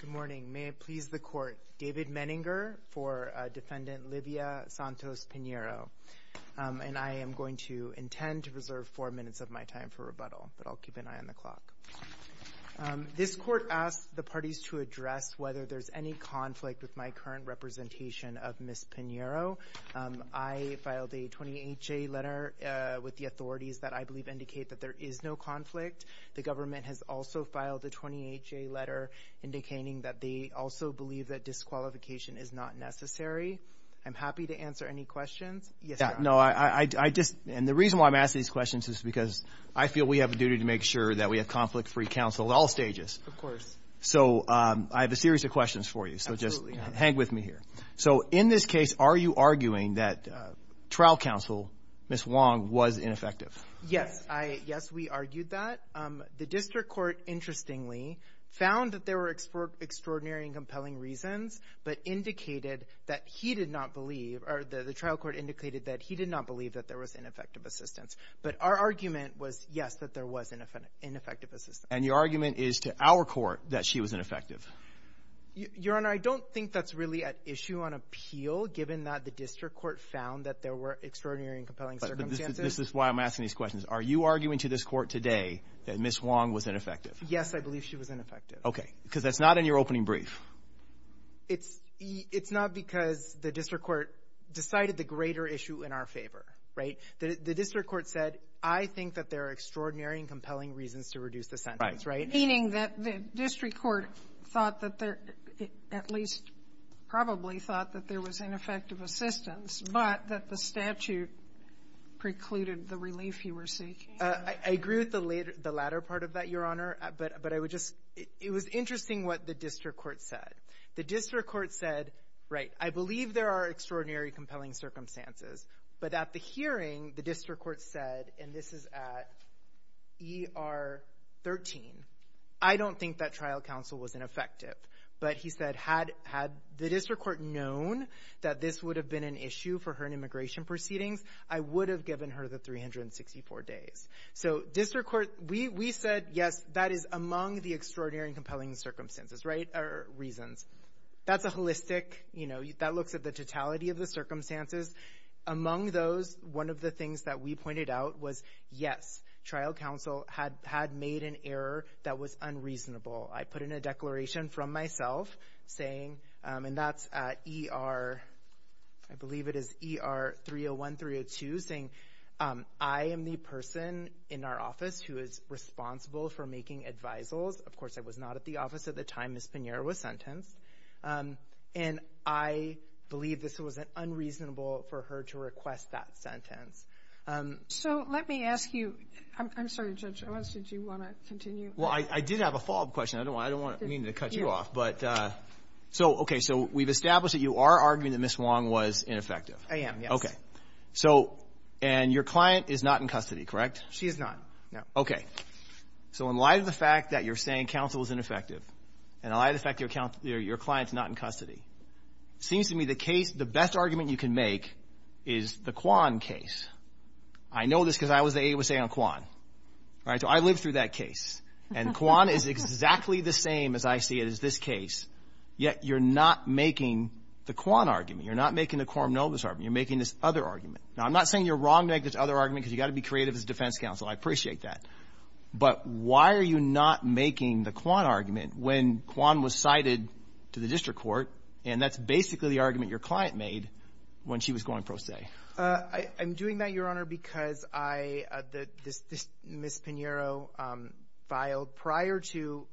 Good morning. May it please the court. David Menninger for defendant Livia Santos Pinheiro. And I am going to intend to reserve four minutes of my time for rebuttal, but I'll keep an eye on the clock. This court asks the parties to address whether there's any conflict with my current representation of Ms. Pinheiro. I filed a 28-J letter with the authorities that I believe indicate that there is no conflict. The government has also filed a 28-J letter indicating that they also believe that disqualification is not necessary. I'm happy to answer any questions. Yes, Your Honor. No, I just – and the reason why I'm asking these questions is because I feel we have a duty to make sure that we have conflict-free counsel at all stages. Of course. So I have a series of questions for you. Absolutely. So just hang with me here. So in this case, are you arguing that trial counsel, Ms. Wong, was ineffective? Yes. Yes, we argued that. The district court, interestingly, found that there were extraordinary and compelling reasons, but indicated that he did not believe – or the trial court indicated that he did not believe that there was ineffective assistance. But our argument was, yes, that there was ineffective assistance. And your argument is to our court that she was ineffective? Your Honor, I don't think that's really at issue on appeal, given that the district court found that there were extraordinary and compelling circumstances. This is why I'm asking these questions. Are you arguing to this Court today that Ms. Wong was ineffective? Yes, I believe she was ineffective. Okay. Because that's not in your opening brief. It's not because the district court decided the greater issue in our favor. Right? The district court said, I think that there are extraordinary and compelling reasons to reduce the sentence. Right. Meaning that the district court thought that there – at least probably thought that there was ineffective assistance, but that the statute precluded the relief you were seeking. I agree with the latter part of that, Your Honor. But I would just – it was interesting what the district court said. The district court said, right, I believe there are extraordinary, compelling circumstances. But at the hearing, the district court said, and this is at ER 13, I don't think that trial counsel was ineffective. But he said, had the district court known that this would have been an issue for her in immigration proceedings, I would have given her the 364 days. So district court – we said, yes, that is among the extraordinary and compelling circumstances. Right? Or reasons. That's a holistic – you know, that looks at the totality of the circumstances. Among those, one of the things that we pointed out was, yes, trial counsel had made an error that was unreasonable. I put in a declaration from myself saying – and that's at ER – I believe it is ER 301, 302 – saying I am the person in our office who is responsible for making advisals. Of course, I was not at the office at the time Ms. Pinheiro was sentenced. And I believe this was unreasonable for her to request that sentence. So let me ask you – I'm sorry, Judge Owens, did you want to continue? Well, I did have a follow-up question. I don't want – I don't mean to cut you off. But – so, okay, so we've established that you are arguing that Ms. Wong was ineffective. I am, yes. Okay. So – and your client is not in custody, correct? She is not, no. Okay. So in light of the fact that you're saying counsel was ineffective, and in light of the fact that your client is not in custody, it seems to me the case – the best argument you can make is the Kwan case. I know this because I was the AUSA on Kwan. All right? So I lived through that case. And Kwan is exactly the same, as I see it, as this case. Yet you're not making the Kwan argument. You're not making the Quorum Novus argument. You're making this other argument. Now, I'm not saying you're wrong to make this other argument because you've got to be creative as defense counsel. I appreciate that. But why are you not making the Kwan argument when Kwan was cited to the district court, and that's basically the argument your client made when she was going pro se? I'm doing that, Your Honor, because I – this Ms. Pinheiro filed prior to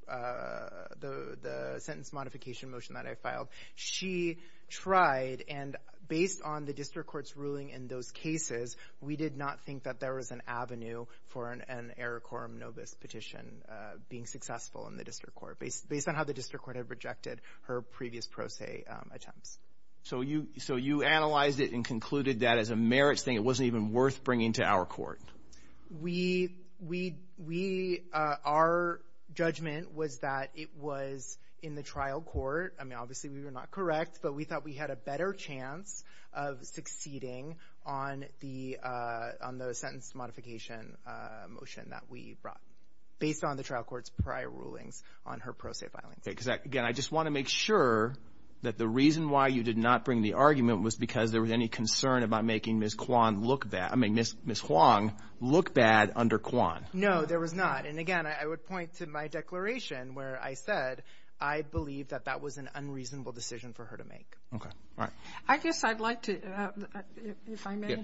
the sentence modification motion that I filed. She tried, and based on the district court's ruling in those cases, we did not think that there was an avenue for an error quorum novus petition being successful in the district court, based on how the district court had rejected her previous pro se attempts. So you analyzed it and concluded that as a merits thing it wasn't even worth bringing to our court? We – our judgment was that it was in the trial court. I mean, obviously we were not correct, but we thought we had a better chance of succeeding on the sentence modification motion that we brought, based on the trial court's prior rulings on her pro se filing. Okay. Because, again, I just want to make sure that the reason why you did not bring the argument was because there was any concern about making Ms. Kwan look bad – I mean, Ms. Huang look bad under Kwan. No, there was not. And, again, I would point to my declaration where I said I believe that that was an unreasonable decision for her to make. Okay. All right. I guess I'd like to, if I may,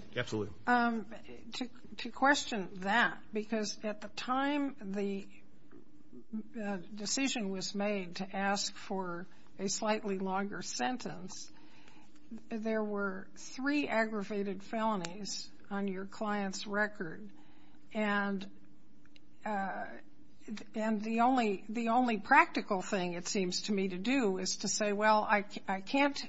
to question that, because at the time the decision was made to ask for a slightly longer sentence, there were three aggravated felonies on your client's record. And the only – the only practical thing, it seems to me, to do is to say, well, I can't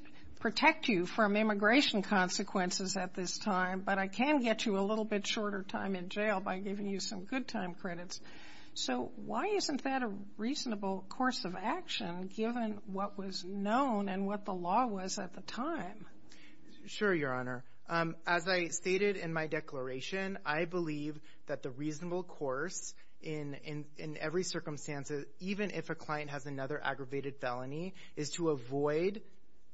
protect you from immigration consequences at this time, but I can get you a little bit shorter time in jail by giving you some good time credits. So why isn't that a reasonable course of action, given what was known and what the law was at the time? Sure, Your Honor. As I stated in my declaration, I believe that the reasonable course in every circumstance, even if a client has another aggravated felony, is to avoid,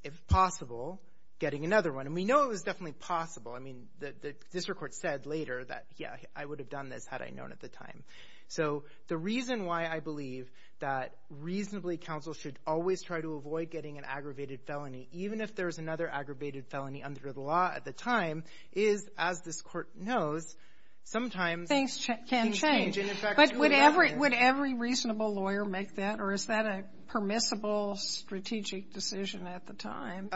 if possible, getting another one. And we know it was definitely possible. I mean, the district court said later that, yeah, I would have done this had I known at the time. So the reason why I believe that reasonably counsel should always try to avoid getting an aggravated felony, even if there's another aggravated felony under the law at the time, is, as this Court knows, sometimes things can change. But would every reasonable lawyer make that, or is that a permissible strategic decision at the time?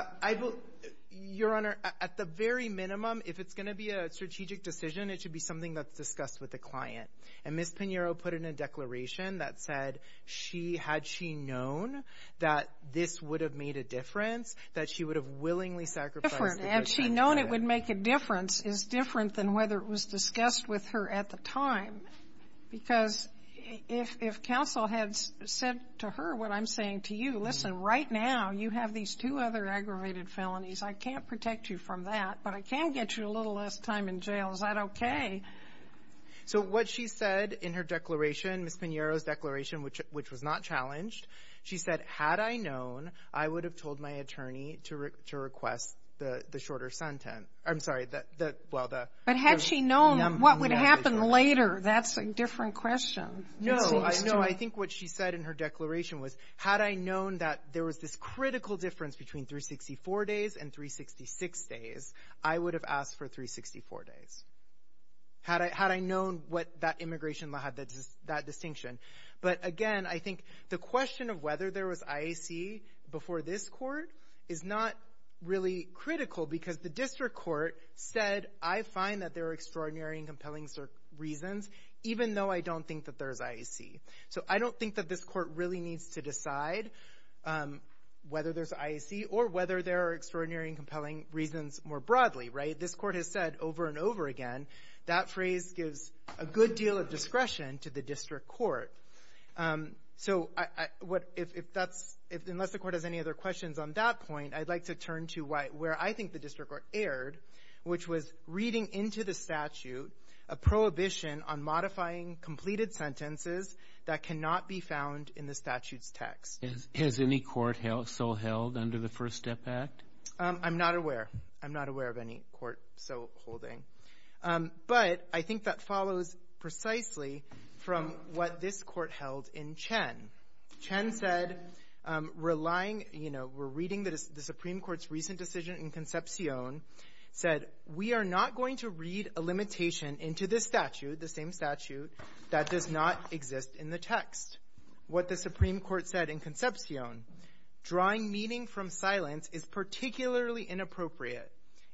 Your Honor, at the very minimum, if it's going to be a strategic decision, it should be something that's discussed with the client. And Ms. Pinheiro put in a declaration that said she had she known that this would have made a difference, that she would have willingly sacrificed the person that did it. And she known it would make a difference is different than whether it was discussed with her at the time, because if counsel had said to her what I'm saying to you, listen, right now you have these two other aggravated felonies. I can't protect you from that, but I can get you a little less time in jail. Is that okay? So what she said in her declaration, Ms. Pinheiro's declaration, which was not challenged, she said, had I known, I would have told my attorney to request the shorter sentence. I'm sorry. But had she known what would happen later, that's a different question. No, I think what she said in her declaration was, had I known that there was this critical difference between 364 days and 366 days, I would have asked for 364 days. Had I known what that immigration law had, that distinction. But again, I think the question of whether there was IAC before this Court is not really critical, because the district court said, I find that there are extraordinary and compelling reasons, even though I don't think that there's IAC. So I don't think that this Court really needs to decide whether there's IAC or whether there are extraordinary and compelling reasons more broadly, right? This Court has said over and over again, that phrase gives a good deal of discretion to the district court. So unless the Court has any other questions on that point, I'd like to turn to where I think the district court erred, which was reading into the statute a prohibition on modifying completed sentences that cannot be found in the statute's text. Has any court so held under the First Step Act? I'm not aware. I'm not aware of any court so holding. But I think that follows precisely from what this Court held in Chen. Chen said, relying, you know, we're reading the Supreme Court's recent decision in Concepcion, said, we are not going to read a limitation into this statute, the same statute, that does not exist in the text. What the Supreme Court said in Concepcion, drawing meaning from silence is particularly inappropriate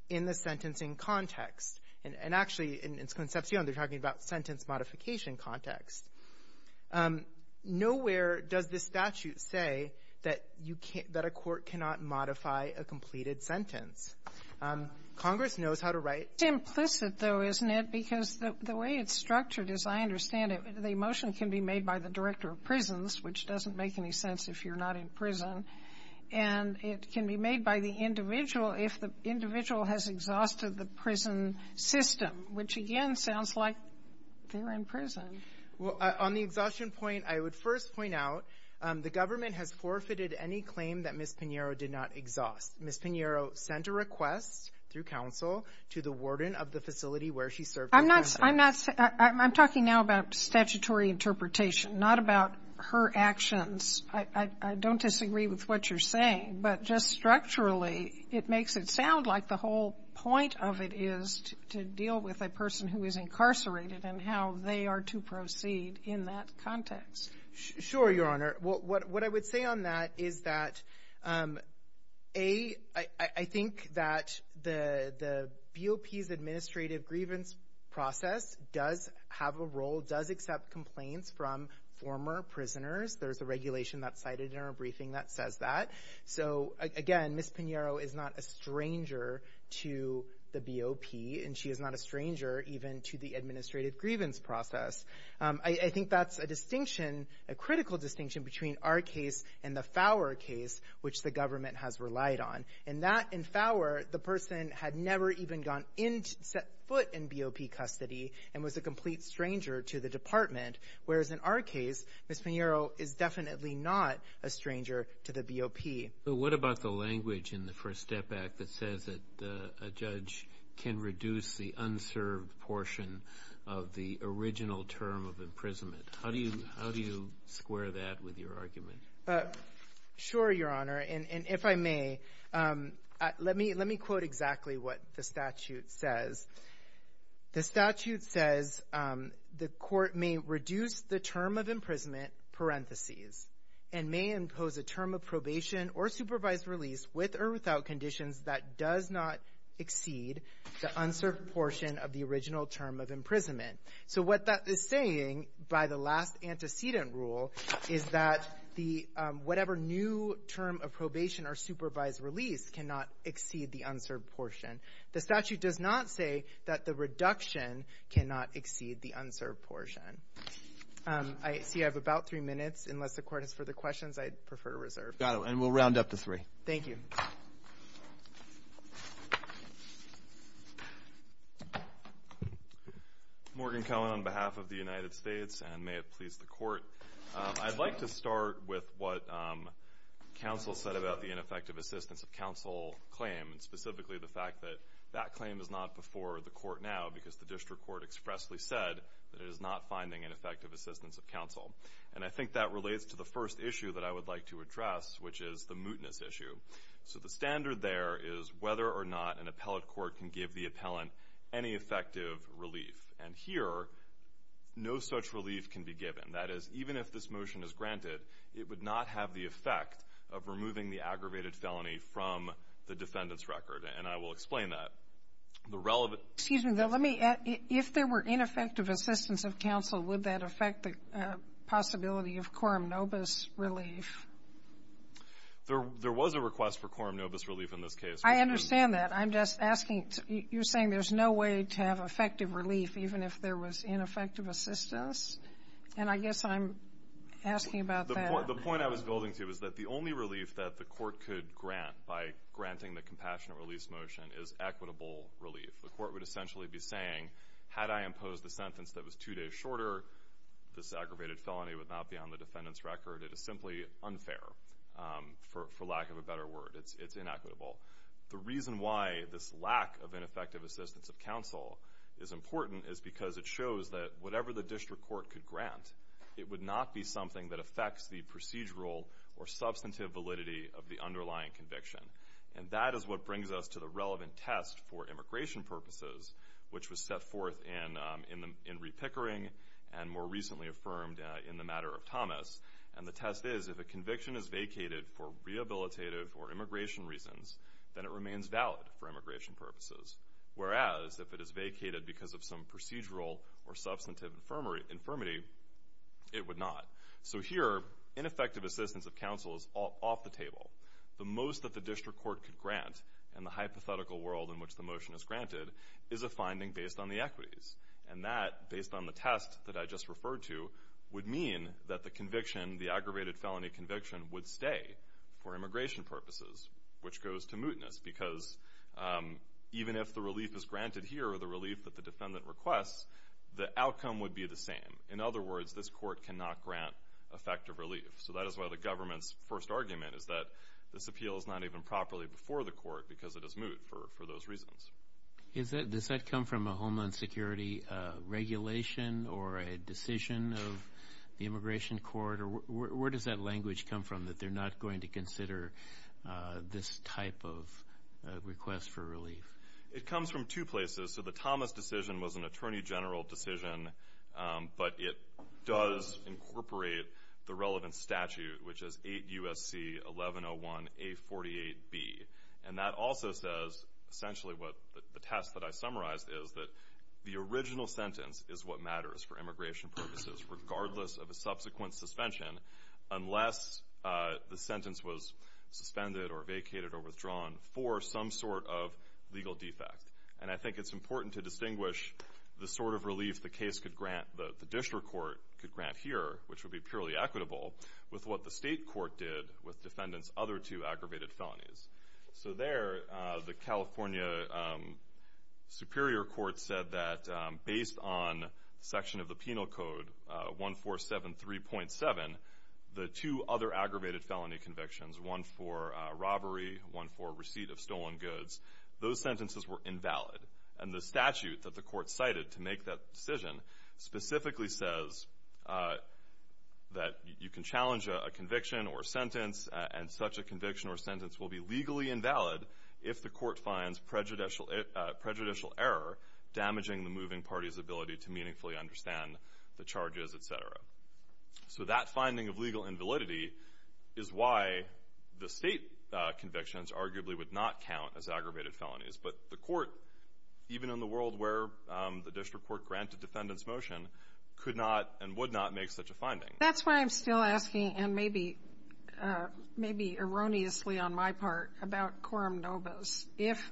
in the sentencing context. And actually, in Concepcion, they're talking about sentence modification context. Nowhere does this statute say that you can't — that a court cannot modify a completed sentence. Congress knows how to write — It's implicit, though, isn't it? Because the way it's structured, as I understand it, the motion can be made by the director of prisons, which doesn't make any sense if you're not in prison, and it can be made by the individual if the individual has exhausted the prison system, which, again, sounds like they're in prison. Well, on the exhaustion point, I would first point out the government has forfeited any claim that Ms. Pinheiro did not exhaust. Ms. Pinheiro sent a request through counsel to the warden of the facility where she served as counsel. I'm not — I'm talking now about statutory interpretation, not about her actions. I don't disagree with what you're saying. But just structurally, it makes it sound like the whole point of it is to deal with a person who is incarcerated and how they are to proceed in that context. Sure, Your Honor. What I would say on that is that, A, I think that the BOP's administrative grievance process does have a role, does accept complaints from former prisoners. There's a regulation that's cited in our briefing that says that. So, again, Ms. Pinheiro is not a stranger to the BOP, and she is not a stranger even to the administrative grievance process. I think that's a distinction, a critical distinction, between our case and the Fowler case, which the government has relied on. In that, in Fowler, the person had never even gone in — set foot in BOP custody and was a complete stranger to the department, whereas in our case, Ms. Pinheiro is definitely not a stranger to the BOP. But what about the language in the First Step Act that says that a judge can reduce the unserved portion of the original term of imprisonment? How do you square that with your argument? Sure, Your Honor. And if I may, let me quote exactly what the statute says. The statute says the court may reduce the term of imprisonment, parentheses, and may impose a term of probation or supervised release with or without conditions that does not exceed the unserved portion of the original term of imprisonment. So what that is saying, by the last antecedent rule, is that the — whatever new term of probation or supervised release cannot exceed the unserved portion. The statute does not say that the reduction cannot exceed the unserved portion. I see I have about three minutes. Unless the Court has further questions, I'd prefer to reserve. Got it. And we'll round up to three. Thank you. Morgan Cohen on behalf of the United States, and may it please the Court. that claim is not before the Court now because the district court expressly said that it is not finding an effective assistance of counsel. And I think that relates to the first issue that I would like to address, which is the mootness issue. So the standard there is whether or not an appellate court can give the appellant any effective relief. And here, no such relief can be given. That is, even if this motion is granted, it would not have the effect of removing the aggravated felony from the defendant's record. And I will explain that. The relevant — Excuse me, though. Let me — if there were ineffective assistance of counsel, would that affect the possibility of coram nobis relief? There was a request for coram nobis relief in this case. I understand that. I'm just asking — you're saying there's no way to have effective relief, even if there was ineffective assistance? And I guess I'm asking about that. The point I was building to is that the only relief that the court could grant by granting the compassionate release motion is equitable relief. The court would essentially be saying, had I imposed the sentence that was two days shorter, this aggravated felony would not be on the defendant's record. It is simply unfair, for lack of a better word. It's inequitable. The reason why this lack of ineffective assistance of counsel is important is because it shows that whatever the district court could grant, it would not be something that affects the procedural or substantive validity of the underlying conviction. And that is what brings us to the relevant test for immigration purposes, which was set forth in re-pickering and more recently affirmed in the matter of Thomas. And the test is, if a conviction is vacated for rehabilitative or immigration reasons, then it remains valid for immigration purposes. Whereas, if it is vacated because of some procedural or substantive infirmity, it would not. So here, ineffective assistance of counsel is off the table. The most that the district court could grant in the hypothetical world in which the motion is granted is a finding based on the equities. And that, based on the test that I just referred to, would mean that the conviction, the aggravated felony conviction, would stay for immigration purposes, which goes to mootness. Because even if the relief is granted here or the relief that the defendant requests, the outcome would be the same. In other words, this court cannot grant effective relief. So that is why the government's first argument is that this appeal is not even properly before the court because it is moot for those reasons. Does that come from a Homeland Security regulation or a decision of the immigration court? Where does that language come from, that they're not going to consider this type of request for relief? It comes from two places. So the Thomas decision was an attorney general decision, but it does incorporate the relevant statute, which is 8 U.S.C. 1101A48B. And that also says, essentially what the test that I summarized is, that the original sentence is what matters for immigration purposes, regardless of a subsequent suspension, unless the sentence was suspended or vacated or withdrawn for some sort of legal defect. And I think it's important to distinguish the sort of relief the case could grant, the district court could grant here, which would be purely equitable, with what the state court did with defendants' other two aggravated felonies. So there, the California Superior Court said that, based on section of the Penal Code 1473.7, the two other aggravated felony convictions, one for robbery, one for receipt of stolen goods, those sentences were invalid. And the statute that the court cited to make that decision specifically says that you can challenge a conviction or sentence, and such a conviction or sentence will be legally invalid if the court finds prejudicial error damaging the moving party's ability to meaningfully understand the charges, et cetera. So that finding of legal invalidity is why the state convictions arguably would not count as aggravated felonies. But the court, even in the world where the district court granted defendants' motion, could not and would not make such a finding. That's why I'm still asking, and maybe erroneously on my part, about quorum nobis. If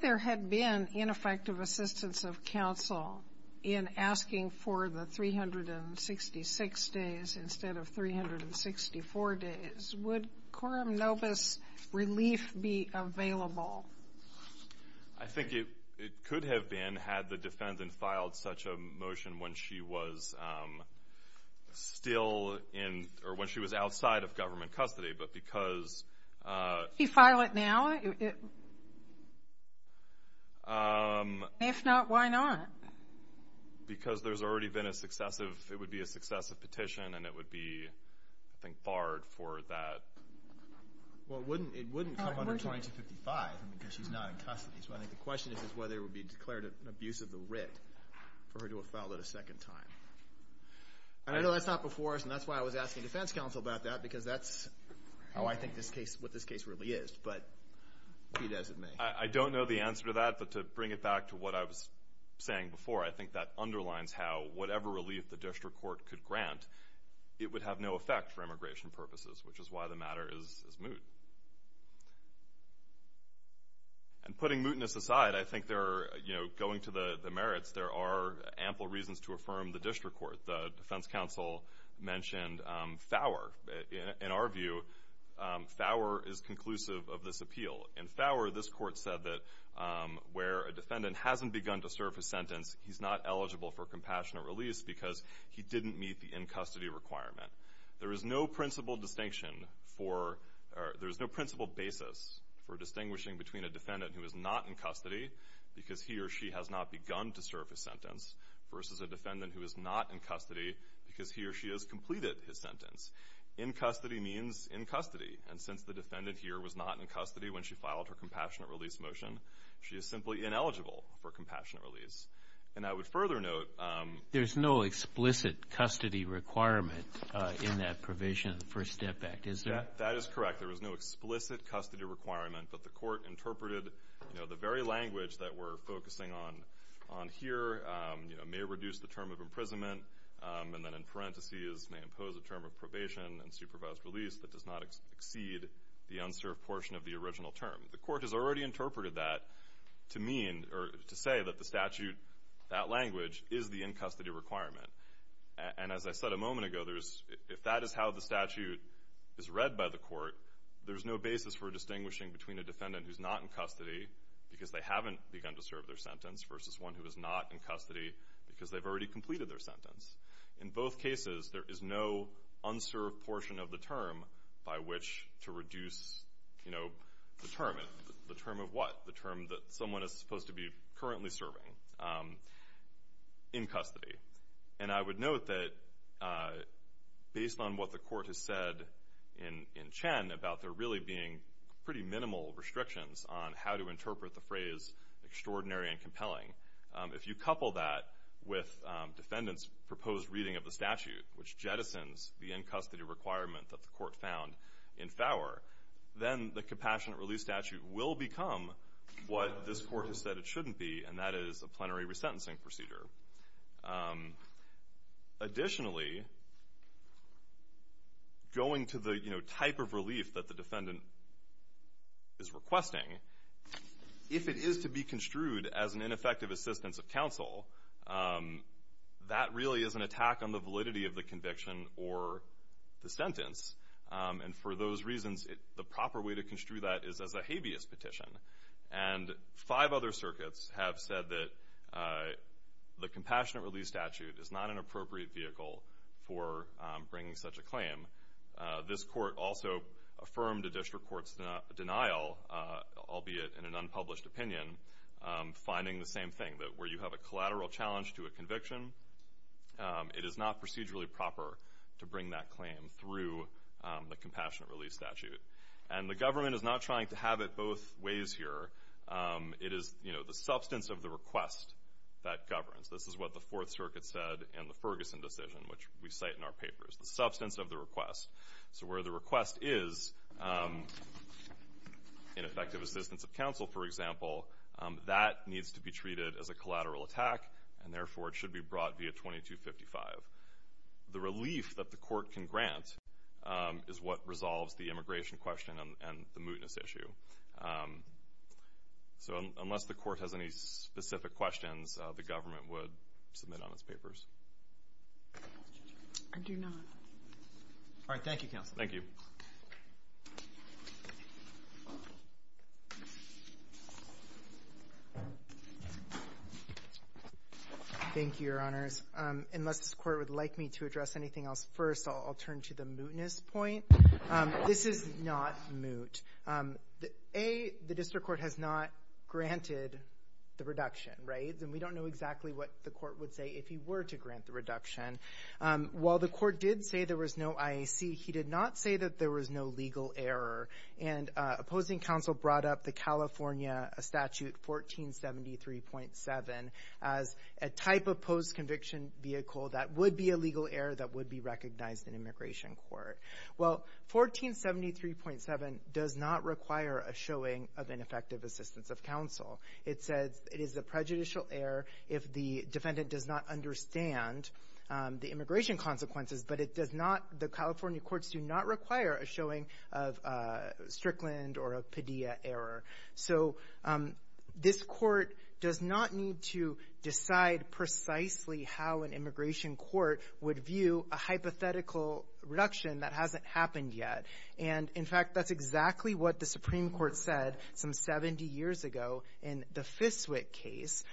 there had been ineffective assistance of counsel in asking for the 366 days instead of 364 days, would quorum nobis relief be available? I think it could have been, had the defendant filed such a motion when she was still in or when she was outside of government custody. But because... Can you file it now? Yeah. If not, why not? Because there's already been a successive, it would be a successive petition, and it would be, I think, barred for that. Well, it wouldn't come under 2255 because she's not in custody. So I think the question is whether it would be declared an abuse of the writ for her to have filed it a second time. And I know that's not before us, and that's why I was asking defense counsel about that, because that's how I think this case, what this case really is. But Pete has it made. I don't know the answer to that, but to bring it back to what I was saying before, I think that underlines how whatever relief the district court could grant, it would have no effect for immigration purposes, which is why the matter is moot. And putting mootness aside, I think there are, you know, going to the merits, there are ample reasons to affirm the district court. The defense counsel mentioned FOWR. In our view, FOWR is conclusive of this appeal. In FOWR, this court said that where a defendant hasn't begun to serve his sentence, he's not eligible for compassionate release because he didn't meet the in-custody requirement. There is no principle distinction for or there is no principle basis for distinguishing between a defendant who is not in custody because he or she has not begun to serve his sentence versus a defendant who is not in custody because he or she has completed his sentence. In custody means in custody, and since the defendant here was not in custody when she filed her compassionate release motion, she is simply ineligible for compassionate release. And I would further note— There's no explicit custody requirement in that provision in the First Step Act, is there? That is correct. There is no explicit custody requirement, but the court interpreted the very language that we're focusing on here, may reduce the term of imprisonment, and then in parentheses may impose a term of probation and supervised release that does not exceed the unserved portion of the original term. The court has already interpreted that to mean or to say that the statute, that language, is the in-custody requirement. And as I said a moment ago, if that is how the statute is read by the court, there's no basis for distinguishing between a defendant who's not in custody because they haven't begun to serve their sentence versus one who is not in custody because they've already completed their sentence. In both cases, there is no unserved portion of the term by which to reduce the term. The term of what? The term that someone is supposed to be currently serving in custody. And I would note that based on what the court has said in Chen about there really being pretty minimal restrictions on how to interpret the phrase extraordinary and compelling, if you couple that with defendants' proposed reading of the statute, which jettisons the in-custody requirement that the court found in Faur, then the compassionate release statute will become what this court has said it shouldn't be, and that is a plenary resentencing procedure. Additionally, going to the type of relief that the defendant is requesting, if it is to be construed as an ineffective assistance of counsel, that really is an attack on the validity of the conviction or the sentence. And for those reasons, the proper way to construe that is as a habeas petition. And five other circuits have said that the compassionate release statute is not an appropriate vehicle for bringing such a claim. This court also affirmed a district court's denial, albeit in an unpublished opinion, finding the same thing, that where you have a collateral challenge to a conviction, it is not procedurally proper to bring that claim through the compassionate release statute. And the government is not trying to have it both ways here. It is the substance of the request that governs. This is what the Fourth Circuit said in the Ferguson decision, which we cite in our papers, the substance of the request. So where the request is, ineffective assistance of counsel, for example, that needs to be treated as a collateral attack, and therefore it should be brought via 2255. The relief that the court can grant is what resolves the immigration question and the mootness issue. So unless the court has any specific questions, the government would submit on its papers. I do not. All right, thank you, counsel. Thank you. Thank you, Your Honors. Unless the court would like me to address anything else first, I'll turn to the mootness point. This is not moot. A, the district court has not granted the reduction, right? And we don't know exactly what the court would say if he were to grant the reduction. While the court did say there was no IAC, he did not say that there was no legal error. And opposing counsel brought up the California statute 1473.7 as a type of post-conviction vehicle that would be a legal error that would be recognized in immigration court. Well, 1473.7 does not require a showing of ineffective assistance of counsel. It says it is a prejudicial error if the defendant does not understand the immigration consequences, but it does not, the California courts do not require a showing of a Strickland or a Padilla error. So this court does not need to decide precisely how an immigration court would view a hypothetical reduction that hasn't happened yet. And, in fact, that's exactly what the Supreme Court said some 70 years ago in the Fiswick case,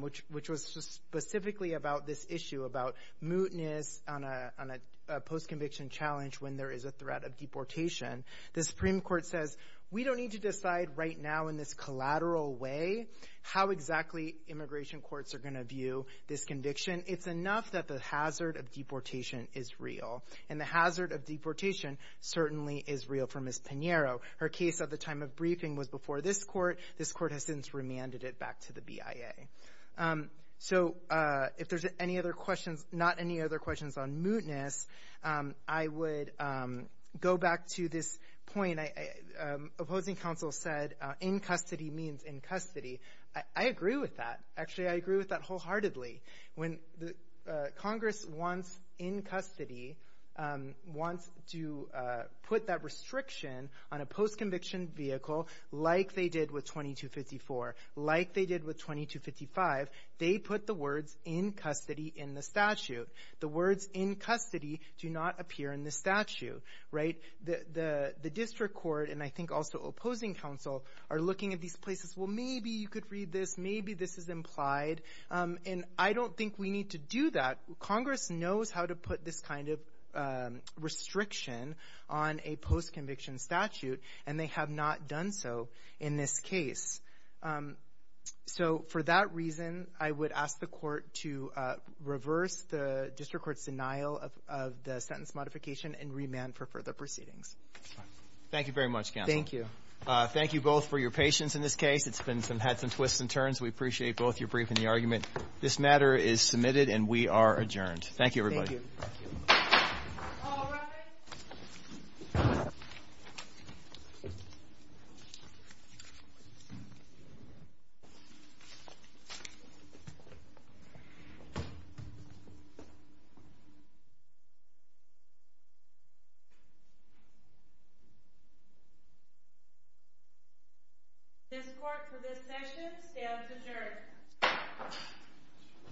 which was specifically about this issue about mootness on a post-conviction challenge when there is a threat of deportation. The Supreme Court says we don't need to decide right now in this collateral way how exactly immigration courts are going to view this conviction. It's enough that the hazard of deportation is real, and the hazard of deportation certainly is real for Ms. Pinheiro. Her case at the time of briefing was before this court. This court has since remanded it back to the BIA. So if there's any other questions, not any other questions on mootness, I would go back to this point. Opposing counsel said in custody means in custody. I agree with that. Actually, I agree with that wholeheartedly. Congress wants in custody, wants to put that restriction on a post-conviction vehicle like they did with 2254, like they did with 2255. They put the words in custody in the statute. The words in custody do not appear in the statute. The district court, and I think also opposing counsel, are looking at these places. Well, maybe you could read this. Maybe this is implied. And I don't think we need to do that. Congress knows how to put this kind of restriction on a post-conviction statute, and they have not done so in this case. So for that reason, I would ask the court to reverse the district court's denial of the sentence modification and remand for further proceedings. Thank you very much, counsel. Thank you. Thank you both for your patience in this case. It's had some twists and turns. We appreciate both your brief and the argument. This matter is submitted, and we are adjourned. Thank you, everybody. Thank you. All rise. All rise. This court for this session stands adjourned.